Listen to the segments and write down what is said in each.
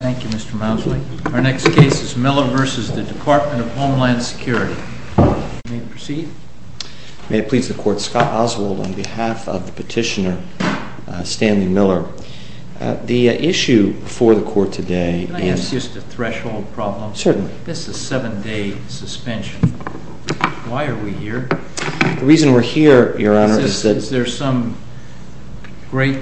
Thank you, Mr. Mousley. Our next case is Miller v. DHS. May it please the Court. Scott Oswald on behalf of the petitioner, Stanley Miller. The issue for the Court today is… Can I ask just a threshold problem? Certainly. This is a seven-day suspension. Why are we here? The reason we're here, Your Honor, is that… Is there some great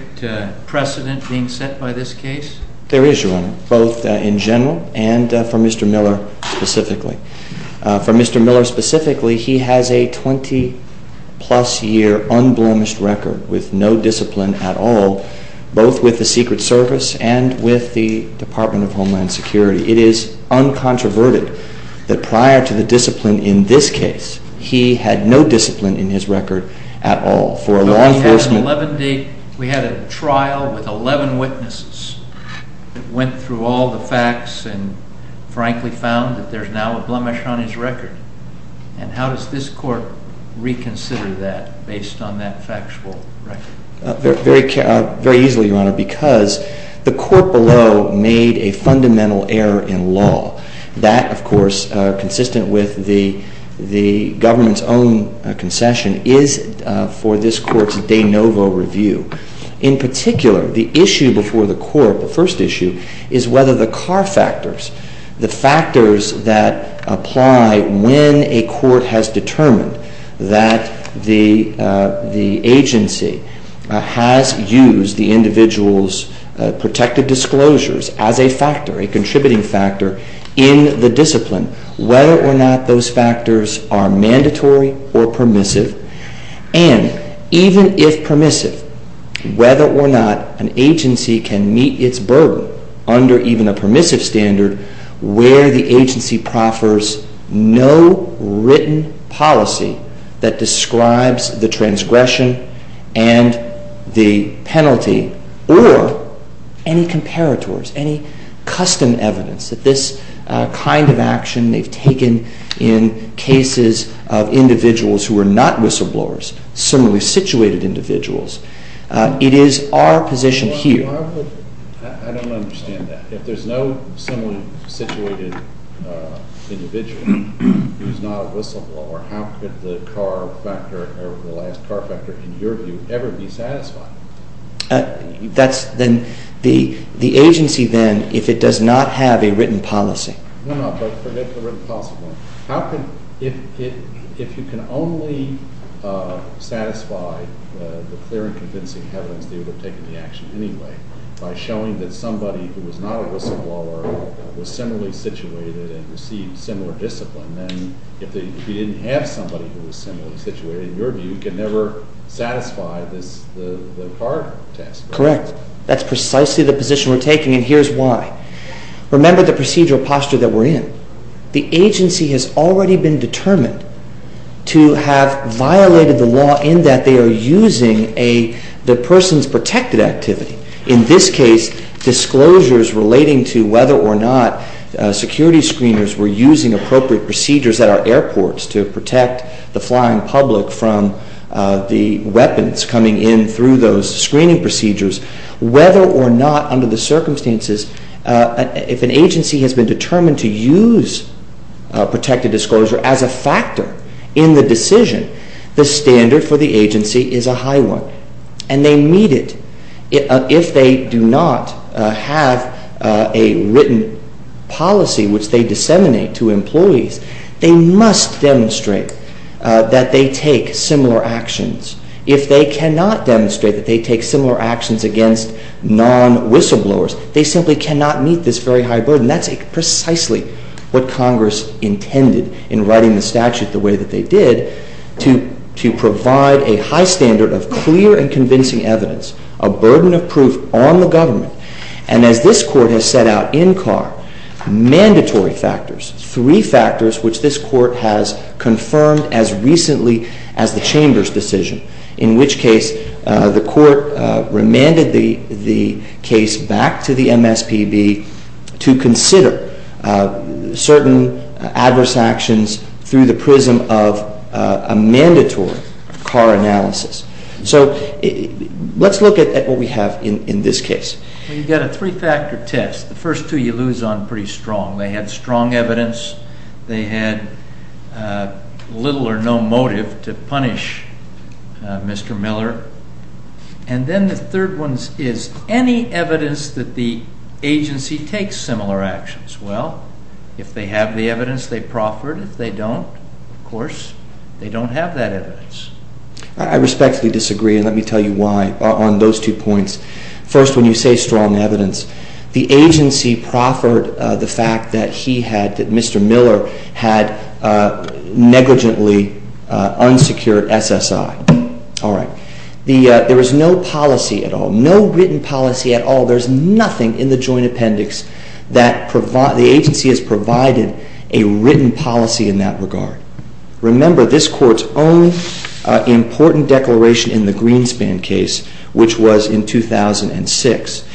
precedent being set by this case? There is, Your Honor, both in general and for Mr. Miller specifically. For Mr. Miller specifically, he has a 20-plus year unblemished record with no discipline at all, both with the Secret Service and with the Department of Homeland Security. It is uncontroverted that prior to the discipline in this case, he had no discipline in his record at all. We had a trial with 11 witnesses that went through all the facts and frankly found that there's now a blemish on his record. And how does this Court reconsider that based on that factual record? Very easily, Your Honor, because the Court below made a fundamental error in law. That, of course, consistent with the government's own concession, is for this Court's de novo review. In particular, the issue before the Court, the first issue, is whether the CAR factors, the factors that apply when a Court has determined that the agency has used the individual's protected disclosures as a factor, a contributing factor, in the discipline, whether or not those factors are mandatory or permissive. And even if permissive, whether or not an agency can meet its burden under even a permissive standard where the agency proffers no written policy that describes the transgression and the penalty, or any comparators, any custom evidence that this kind of action they've taken in cases of individuals who are not with civil liability. Similarly situated individuals. It is our position here... Your Honor, I don't understand that. If there's no similarly situated individual who's not a whistleblower, how could the last CAR factor, in your view, ever be satisfied? The agency then, if it does not have a written policy... No, no, forget the written policy. If you can only satisfy the clear and convincing evidence they would have taken the action anyway by showing that somebody who was not a whistleblower was similarly situated and received similar discipline, then if you didn't have somebody who was similarly situated, in your view, you can never satisfy the CAR test. Correct. That's precisely the position we're taking, and here's why. Remember the procedural posture that we're in. The agency has already been determined to have violated the law in that they are using the person's protected activity. In this case, disclosures relating to whether or not security screeners were using appropriate procedures at our airports to protect the flying public from the weapons coming in through those screening procedures, whether or not, under the circumstances, if an agency has been determined to use protected disclosure as a factor in the decision, the standard for the agency is a high one, and they meet it. If they do not have a written policy which they disseminate to employees, they must demonstrate that they take similar actions. If they cannot demonstrate that they take similar actions against non-whistleblowers, they simply cannot meet this very high burden. And that's precisely what Congress intended in writing the statute the way that they did, to provide a high standard of clear and convincing evidence, a burden of proof on the government. And as this Court has set out in CAR, mandatory factors, three factors which this Court has confirmed as recently as the Chamber's decision, in which case the Court remanded the case back to the MSPB to consider certain adverse actions through the prism of a mandatory CAR analysis. So let's look at what we have in this case. You've got a three-factor test. The first two you lose on pretty strong. They had strong evidence. They had little or no motive to punish Mr. Miller. And then the third one is any evidence that the agency takes similar actions. Well, if they have the evidence, they proffered. If they don't, of course, they don't have that evidence. I respectfully disagree, and let me tell you why on those two points. First, when you say strong evidence, the agency proffered the fact that he had, that Mr. Miller had negligently unsecured SSI. All right. There was no policy at all, no written policy at all. There's nothing in the Joint Appendix that the agency has provided a written policy in that regard. Remember this Court's own important declaration in the Greenspan case, which was in 2006.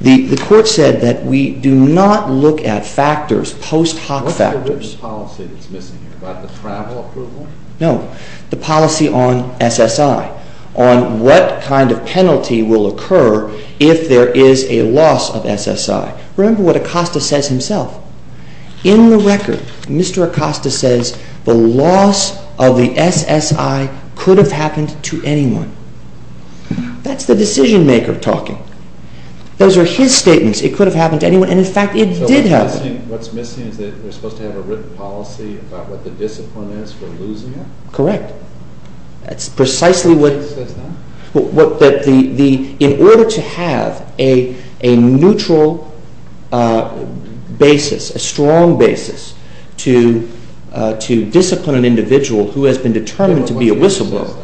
The Court said that we do not look at factors, post hoc factors. What's the written policy that's missing here, about the travel approval? No, the policy on SSI, on what kind of penalty will occur if there is a loss of SSI. Remember what Acosta says himself. In the record, Mr. Acosta says the loss of the SSI could have happened to anyone. That's the decision-maker talking. Those are his statements. It could have happened to anyone, and in fact, it did happen. So what's missing is that we're supposed to have a written policy about what the discipline is for losing it? Correct. In order to have a neutral basis, a strong basis to discipline an individual who has been determined to be a whistleblower,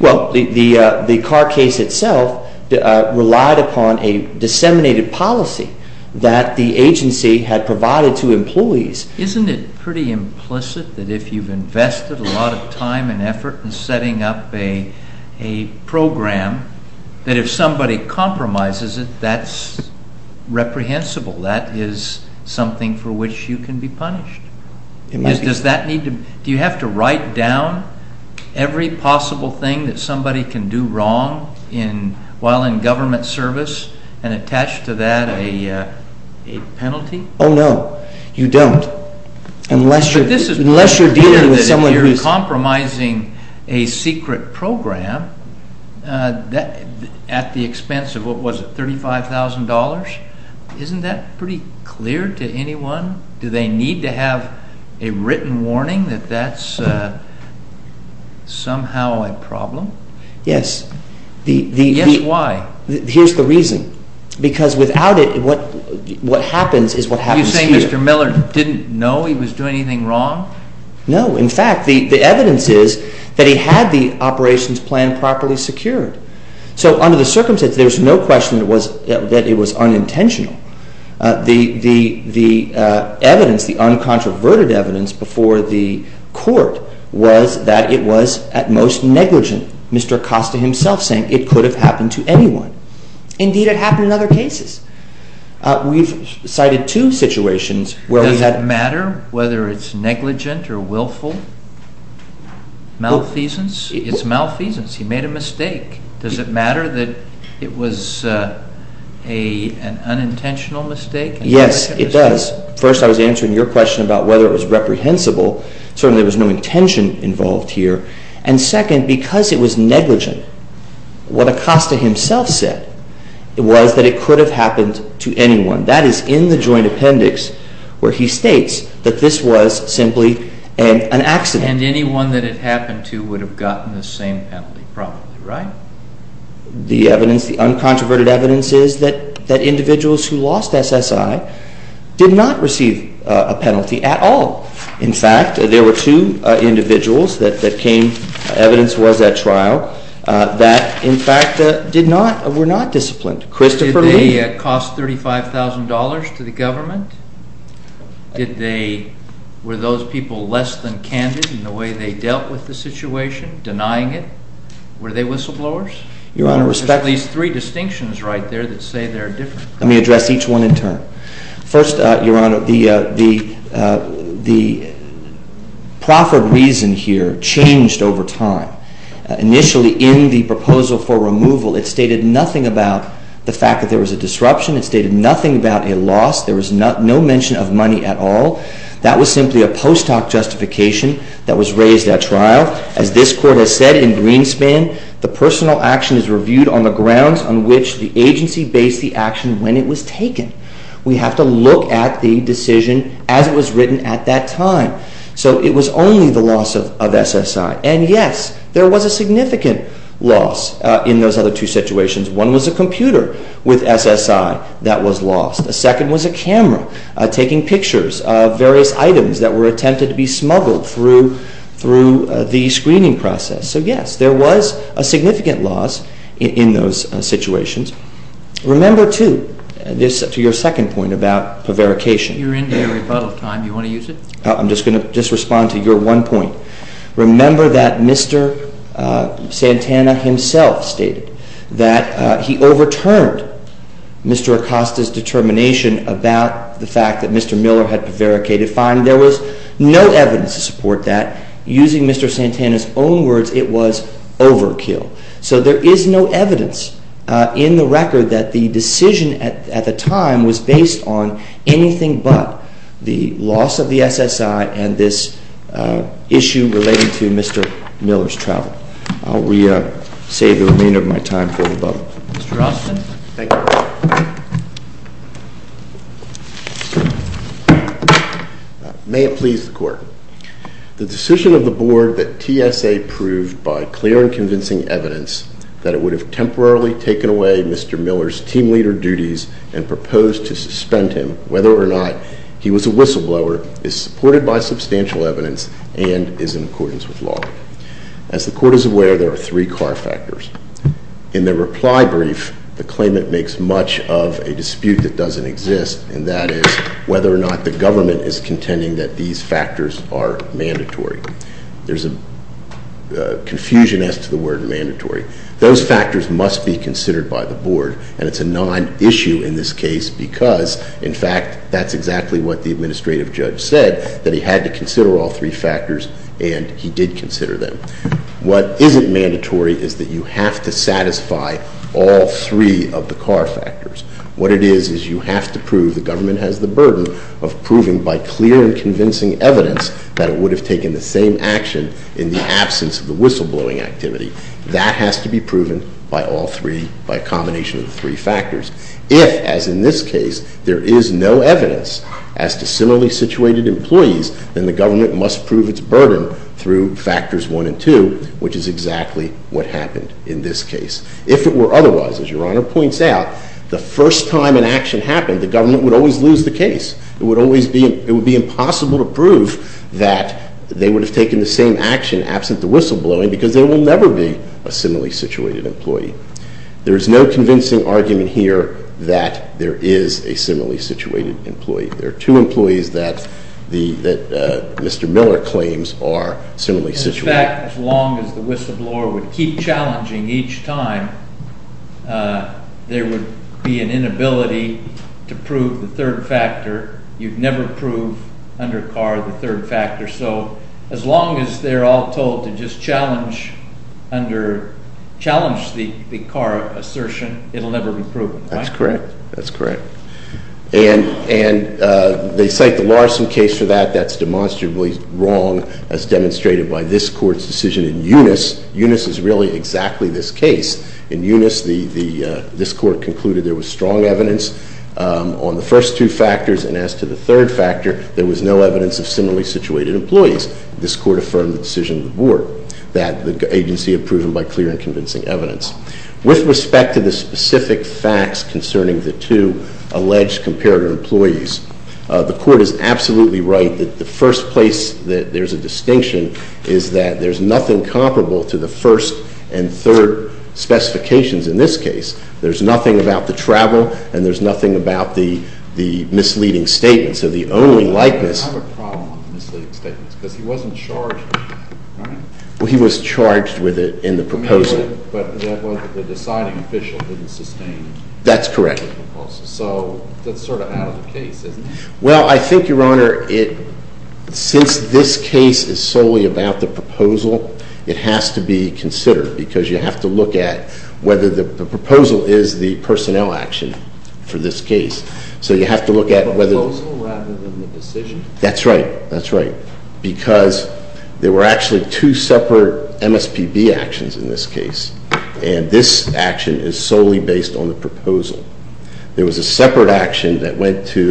well, the Carr case itself relied upon a disseminated policy that the agency had provided to employees. Isn't it pretty implicit that if you've invested a lot of time and effort in setting up a program, that if somebody compromises it, that's reprehensible, that is something for which you can be punished? Do you have to write down every possible thing that somebody can do wrong while in government service and attach to that a penalty? Oh, no, you don't, unless you're dealing with someone who's... But this is pretty clear that if you're compromising a secret program at the expense of, what was it, $35,000? Isn't that pretty clear to anyone? Do they need to have a written warning that that's somehow a problem? Yes. Yes, why? Here's the reason. Because without it, what happens is what happens here. Are you saying Mr. Miller didn't know he was doing anything wrong? No. In fact, the evidence is that he had the operations plan properly secured. So under the circumstances, there's no question that it was unintentional. The evidence, the uncontroverted evidence before the court was that it was at most negligent, Mr. Acosta himself saying it could have happened to anyone. Indeed, it happened in other cases. We've cited two situations where we had... Malfeasance? It's malfeasance. He made a mistake. Does it matter that it was an unintentional mistake? Yes, it does. First, I was answering your question about whether it was reprehensible. Certainly, there was no intention involved here. And second, because it was negligent, what Acosta himself said was that it could have happened to anyone. That is in the joint appendix where he states that this was simply an accident. And anyone that it happened to would have gotten the same penalty probably, right? The evidence, the uncontroverted evidence is that individuals who lost SSI did not receive a penalty at all. In fact, there were two individuals that came, evidence was at trial, that in fact did not, were not disciplined. Did they cost $35,000 to the government? Were those people less than candid in the way they dealt with the situation, denying it? Were they whistleblowers? Your Honor, respect... There's at least three distinctions right there that say they're different. Let me address each one in turn. First, Your Honor, the proffered reason here changed over time. Initially, in the proposal for removal, it stated nothing about the fact that there was a disruption, it stated nothing about a loss, there was no mention of money at all. That was simply a post hoc justification that was raised at trial. As this Court has said in Greenspan, the personal action is reviewed on the grounds on which the agency based the action when it was taken. We have to look at the decision as it was written at that time. So it was only the loss of SSI. And yes, there was a significant loss in those other two situations. One was a computer with SSI that was lost. The second was a camera taking pictures of various items that were attempted to be smuggled through the screening process. So yes, there was a significant loss in those situations. Remember, too, to your second point about prevarication... You're into your rebuttal time. Do you want to use it? I'm just going to respond to your one point. Remember that Mr. Santana himself stated that he overturned Mr. Acosta's determination about the fact that Mr. Miller had prevaricated. Fine. There was no evidence to support that. Using Mr. Santana's own words, it was overkill. So there is no evidence in the record that the decision at the time was based on anything but the loss of the SSI and this issue relating to Mr. Miller's travel. I'll re-save the remainder of my time for rebuttal. Mr. Austin. Thank you. May it please the Court. The decision of the Board that TSA proved by clear and convincing evidence that it would have temporarily taken away Mr. Miller's team leader duties and proposed to suspend him whether or not he was a whistleblower is supported by substantial evidence and is in accordance with law. As the Court is aware, there are three car factors. In the reply brief, the claimant makes much of a dispute that doesn't exist, and that is whether or not the government is contending that these factors are mandatory. There's a confusion as to the word mandatory. Those factors must be considered by the Board, and it's a non-issue in this case because, in fact, that's exactly what the administrative judge said, that he had to consider all three factors, and he did consider them. What isn't mandatory is that you have to satisfy all three of the car factors. What it is is you have to prove the government has the burden of proving by clear and convincing evidence that it would have taken the same action in the absence of the whistleblowing activity. That has to be proven by all three, by a combination of three factors. If, as in this case, there is no evidence as to similarly situated employees, then the government must prove its burden through factors one and two, which is exactly what happened in this case. If it were otherwise, as Your Honor points out, the first time an action happened, the government would always lose the case. It would be impossible to prove that they would have taken the same action absent the whistleblowing because they will never be a similarly situated employee. There is no convincing argument here that there is a similarly situated employee. There are two employees that Mr. Miller claims are similarly situated. In fact, as long as the whistleblower would keep challenging each time, there would be an inability to prove the third factor. You would never prove under car the third factor. So as long as they are all told to just challenge the car assertion, it will never be proven. That's correct. That's correct. And they cite the Larson case for that. That's demonstrably wrong as demonstrated by this Court's decision in Eunice. Eunice is really exactly this case. In Eunice, this Court concluded there was strong evidence on the first two factors. And as to the third factor, there was no evidence of similarly situated employees. This Court affirmed the decision of the Board that the agency had proven by clear and convincing evidence. With respect to the specific facts concerning the two alleged comparator employees, the Court is absolutely right that the first place that there's a distinction is that there's nothing comparable to the first and third specifications in this case. There's nothing about the travel and there's nothing about the misleading statements. So the only likeness... I have a problem with the misleading statements because he wasn't charged, right? Well, he was charged with it in the proposal. But the deciding official didn't sustain the proposal. That's correct. So that's sort of out of the case, isn't it? Well, I think, Your Honor, since this case is solely about the proposal, it has to be considered because you have to look at whether the proposal is the personnel action for this case. So you have to look at whether... The proposal rather than the decision? That's right. That's right. Because there were actually two separate MSPB actions in this case. And this action is solely based on the proposal. There was a separate action that went to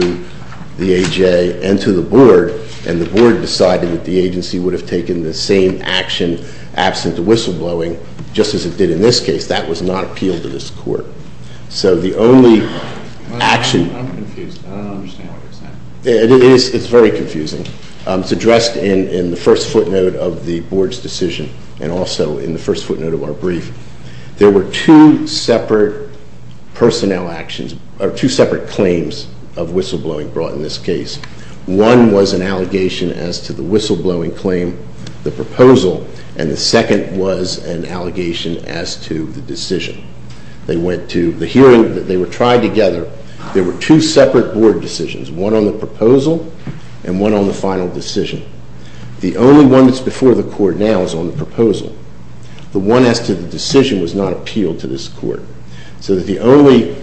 the AJ and to the Board, and the Board decided that the agency would have taken the same action absent of whistleblowing, just as it did in this case. That was not appealed to this Court. So the only action... I'm confused. I don't understand what you're saying. It's very confusing. It's addressed in the first footnote of the Board's decision and also in the first footnote of our brief. There were two separate personnel actions or two separate claims of whistleblowing brought in this case. One was an allegation as to the whistleblowing claim, the proposal, and the second was an allegation as to the decision. They went to the hearing. They were tried together. There were two separate Board decisions, one on the proposal and one on the final decision. The only one that's before the Court now is on the proposal. The one as to the decision was not appealed to this Court. So the only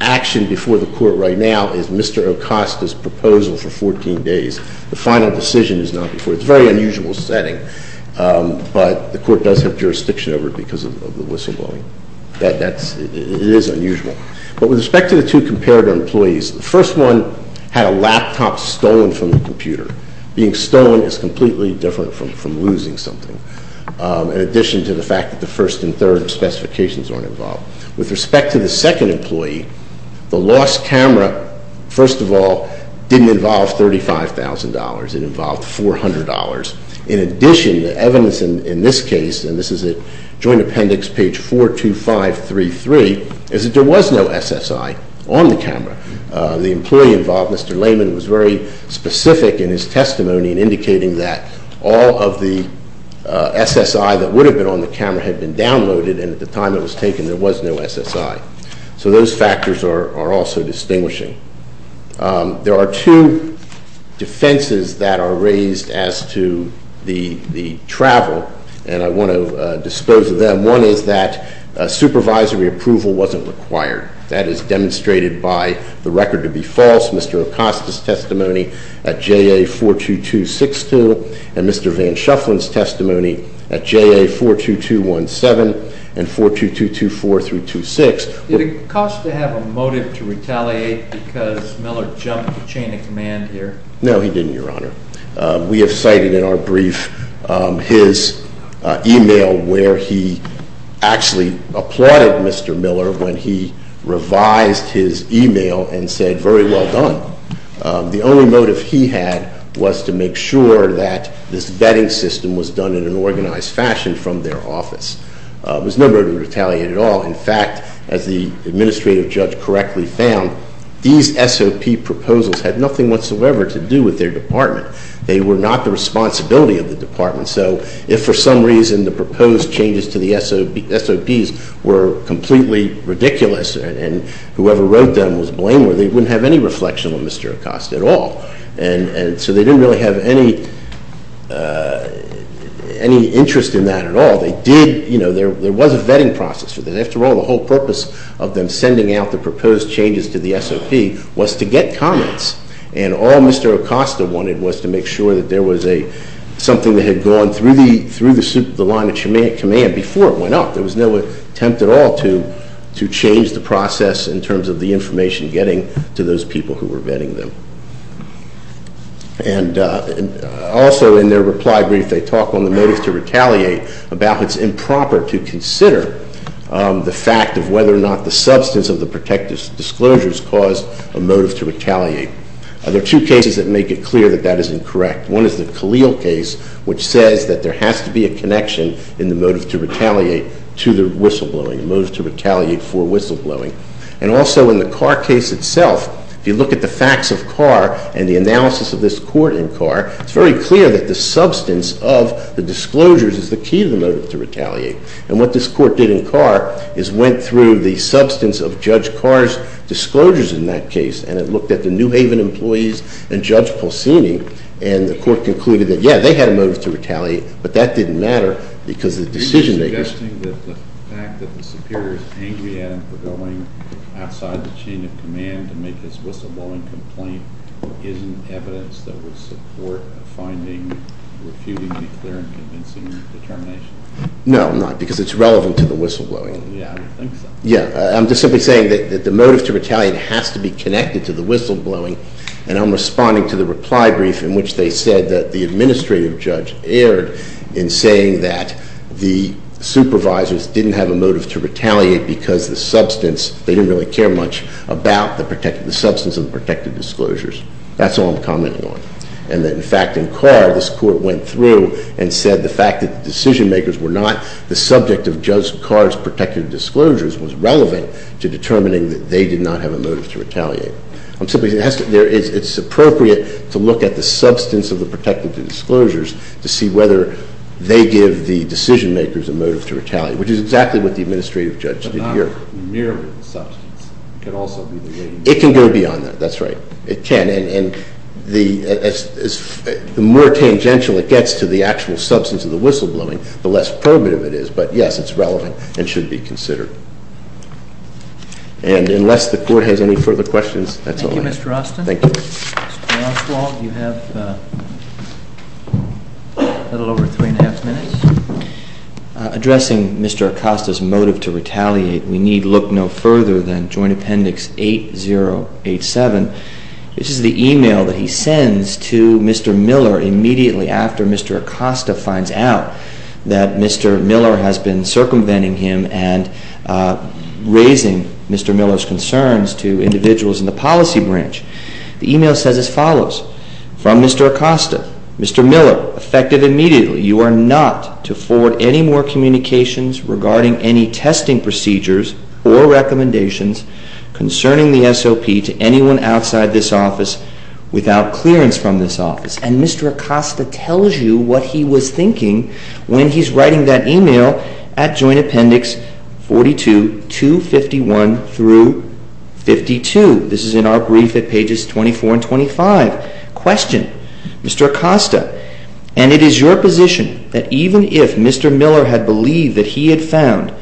action before the Court right now is Mr. Acosta's proposal for 14 days. The final decision is not before. It's a very unusual setting, but the Court does have jurisdiction over it because of the whistleblowing. It is unusual. But with respect to the two comparator employees, the first one had a laptop stolen from the computer. Being stolen is completely different from losing something, in addition to the fact that the first and third specifications aren't involved. With respect to the second employee, the lost camera, first of all, didn't involve $35,000. It involved $400. In addition, the evidence in this case, and this is at Joint Appendix page 42533, is that there was no SSI on the camera. The employee involved, Mr. Lehman, was very specific in his testimony in indicating that all of the SSI that would have been on the camera had been downloaded, and at the time it was taken, there was no SSI. So those factors are also distinguishing. There are two defenses that are raised as to the travel, and I want to dispose of them. One is that supervisory approval wasn't required. That is demonstrated by the record to be false, Mr. Acosta's testimony at JA 42262, and Mr. Van Shufflin's testimony at JA 42217 and 42224 through 26. Did Acosta have a motive to retaliate because Miller jumped the chain of command here? No, he didn't, Your Honor. We have cited in our brief his email where he actually applauded Mr. Miller when he revised his email and said, Very well done. The only motive he had was to make sure that this vetting system was done in an organized fashion from their office. There was no motive to retaliate at all. In fact, as the administrative judge correctly found, these SOP proposals had nothing whatsoever to do with their department. They were not the responsibility of the department, so if for some reason the proposed changes to the SOPs were completely ridiculous and whoever wrote them was blameworthy, they wouldn't have any reflection on Mr. Acosta at all, and so they didn't really have any interest in that at all. There was a vetting process. After all, the whole purpose of them sending out the proposed changes to the SOP was to get comments, and all Mr. Acosta wanted was to make sure that there was something that had gone through the line of command before it went up. There was no attempt at all to change the process in terms of the information getting to those people who were vetting them. And also in their reply brief, they talk on the motive to retaliate, about how it's improper to consider the fact of whether or not the substance of the protective disclosures caused a motive to retaliate. There are two cases that make it clear that that is incorrect. One is the Khalil case, which says that there has to be a connection in the motive to retaliate to the whistleblowing, a motive to retaliate for whistleblowing. And also in the Carr case itself, if you look at the facts of Carr and the analysis of this court in Carr, it's very clear that the substance of the disclosures is the key to the motive to retaliate. And what this court did in Carr is went through the substance of Judge Carr's disclosures in that case, and it looked at the New Haven employees and Judge Polsini, and the court concluded that, yeah, they had a motive to retaliate, but that didn't matter because the decision-makers- Outside the chain of command to make this whistleblowing complaint isn't evidence that would support a finding, refuting the clear and convincing determination? No, not because it's relevant to the whistleblowing. Yeah, I would think so. Yeah, I'm just simply saying that the motive to retaliate has to be connected to the whistleblowing, and I'm responding to the reply brief in which they said that the administrative judge erred in saying that the supervisors didn't have a motive to retaliate because the substance- They didn't really care much about the substance of the protected disclosures. That's all I'm commenting on. And that, in fact, in Carr, this court went through and said the fact that the decision-makers were not the subject of Judge Carr's protected disclosures was relevant to determining that they did not have a motive to retaliate. I'm simply saying it's appropriate to look at the substance of the protected disclosures to see whether they give the decision-makers a motive to retaliate, which is exactly what the administrative judge did here. But not merely the substance. It could also be the- It can go beyond that. That's right. It can. And the more tangential it gets to the actual substance of the whistleblowing, the less primitive it is. But, yes, it's relevant and should be considered. And unless the Court has any further questions, that's all I have. Thank you, Mr. Austin. Thank you. Mr. Oswald, you have a little over three and a half minutes. Addressing Mr. Acosta's motive to retaliate, we need look no further than Joint Appendix 8087. This is the email that he sends to Mr. Miller immediately after Mr. Acosta finds out that Mr. Miller has been circumventing him and raising Mr. Miller's concerns to individuals in the policy branch. The email says as follows, from Mr. Acosta, Mr. Miller, effective immediately, you are not to forward any more communications regarding any testing procedures or recommendations concerning the SOP to anyone outside this office without clearance from this office. And Mr. Acosta tells you what he was thinking when he's writing that email at Joint Appendix 42, 251 through 52. This is in our brief at pages 24 and 25. Question. Mr. Acosta, and it is your position that even if Mr. Miller had believed that he had found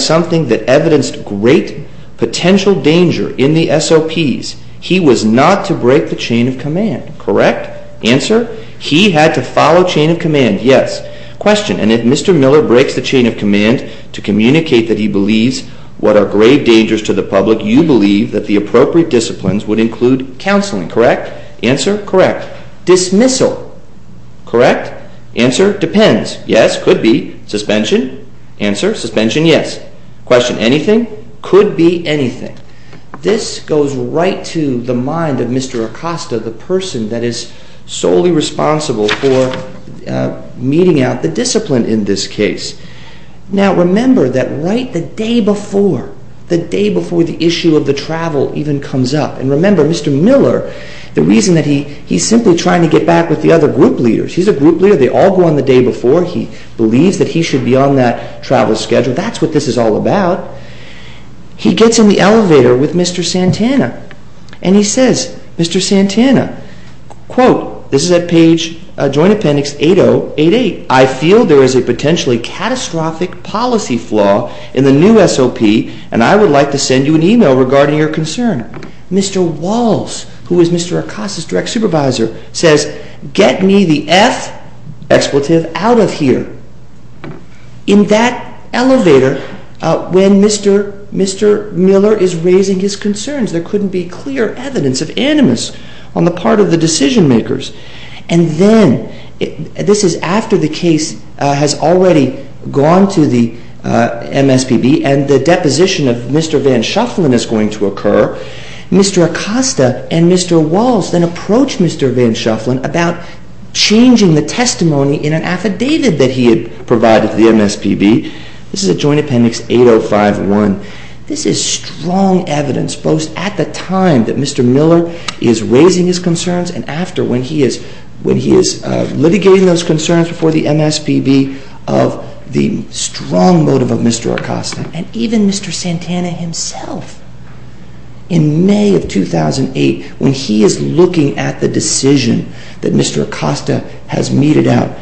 something that evidenced great potential danger in the SOPs, he was not to break the chain of command, correct? Answer. He had to follow chain of command. Yes. Question. And if Mr. Miller breaks the chain of command to communicate that he believes what are grave dangers to the public, you believe that the appropriate disciplines would include counseling, correct? Answer. Correct. Dismissal. Correct. Answer. Depends. Yes. Could be. Suspension. Answer. Suspension. Yes. Question. Anything? Could be anything. This goes right to the mind of Mr. Acosta, the person that is solely responsible for meeting out the discipline in this case. Now, remember that right the day before, the day before the issue of the travel even comes up, and remember Mr. Miller, the reason that he's simply trying to get back with the other group leaders. He's a group leader. They all go on the day before. He believes that he should be on that travel schedule. That's what this is all about. He gets in the elevator with Mr. Santana, and he says, Mr. Santana, quote, this is at page joint appendix 8088, I feel there is a potentially catastrophic policy flaw in the new SOP, and I would like to send you an e-mail regarding your concern. Mr. Walsh, who is Mr. Acosta's direct supervisor, says, get me the F, expletive, out of here. In that elevator, when Mr. Miller is raising his concerns, there couldn't be clear evidence of animus on the part of the decision makers. And then, this is after the case has already gone to the MSPB, and the deposition of Mr. Van Shufflin is going to occur. Mr. Acosta and Mr. Walsh then approach Mr. Van Shufflin about changing the testimony in an affidavit that he had provided to the MSPB. This is at joint appendix 8051. This is strong evidence, both at the time that Mr. Miller is raising his concerns and after, when he is litigating those concerns before the MSPB, of the strong motive of Mr. Acosta. And even Mr. Santana himself, in May of 2008, when he is looking at the decision that Mr. Acosta has meted out,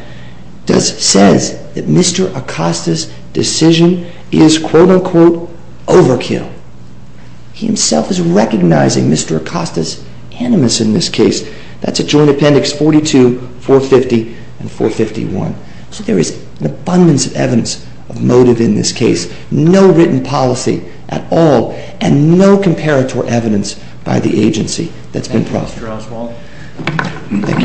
says that Mr. Acosta's decision is, quote-unquote, overkill. He himself is recognizing Mr. Acosta's animus in this case. That's at joint appendix 42, 450, and 451. So there is an abundance of evidence of motive in this case. No written policy at all, and no comparator evidence by the agency that's been processed.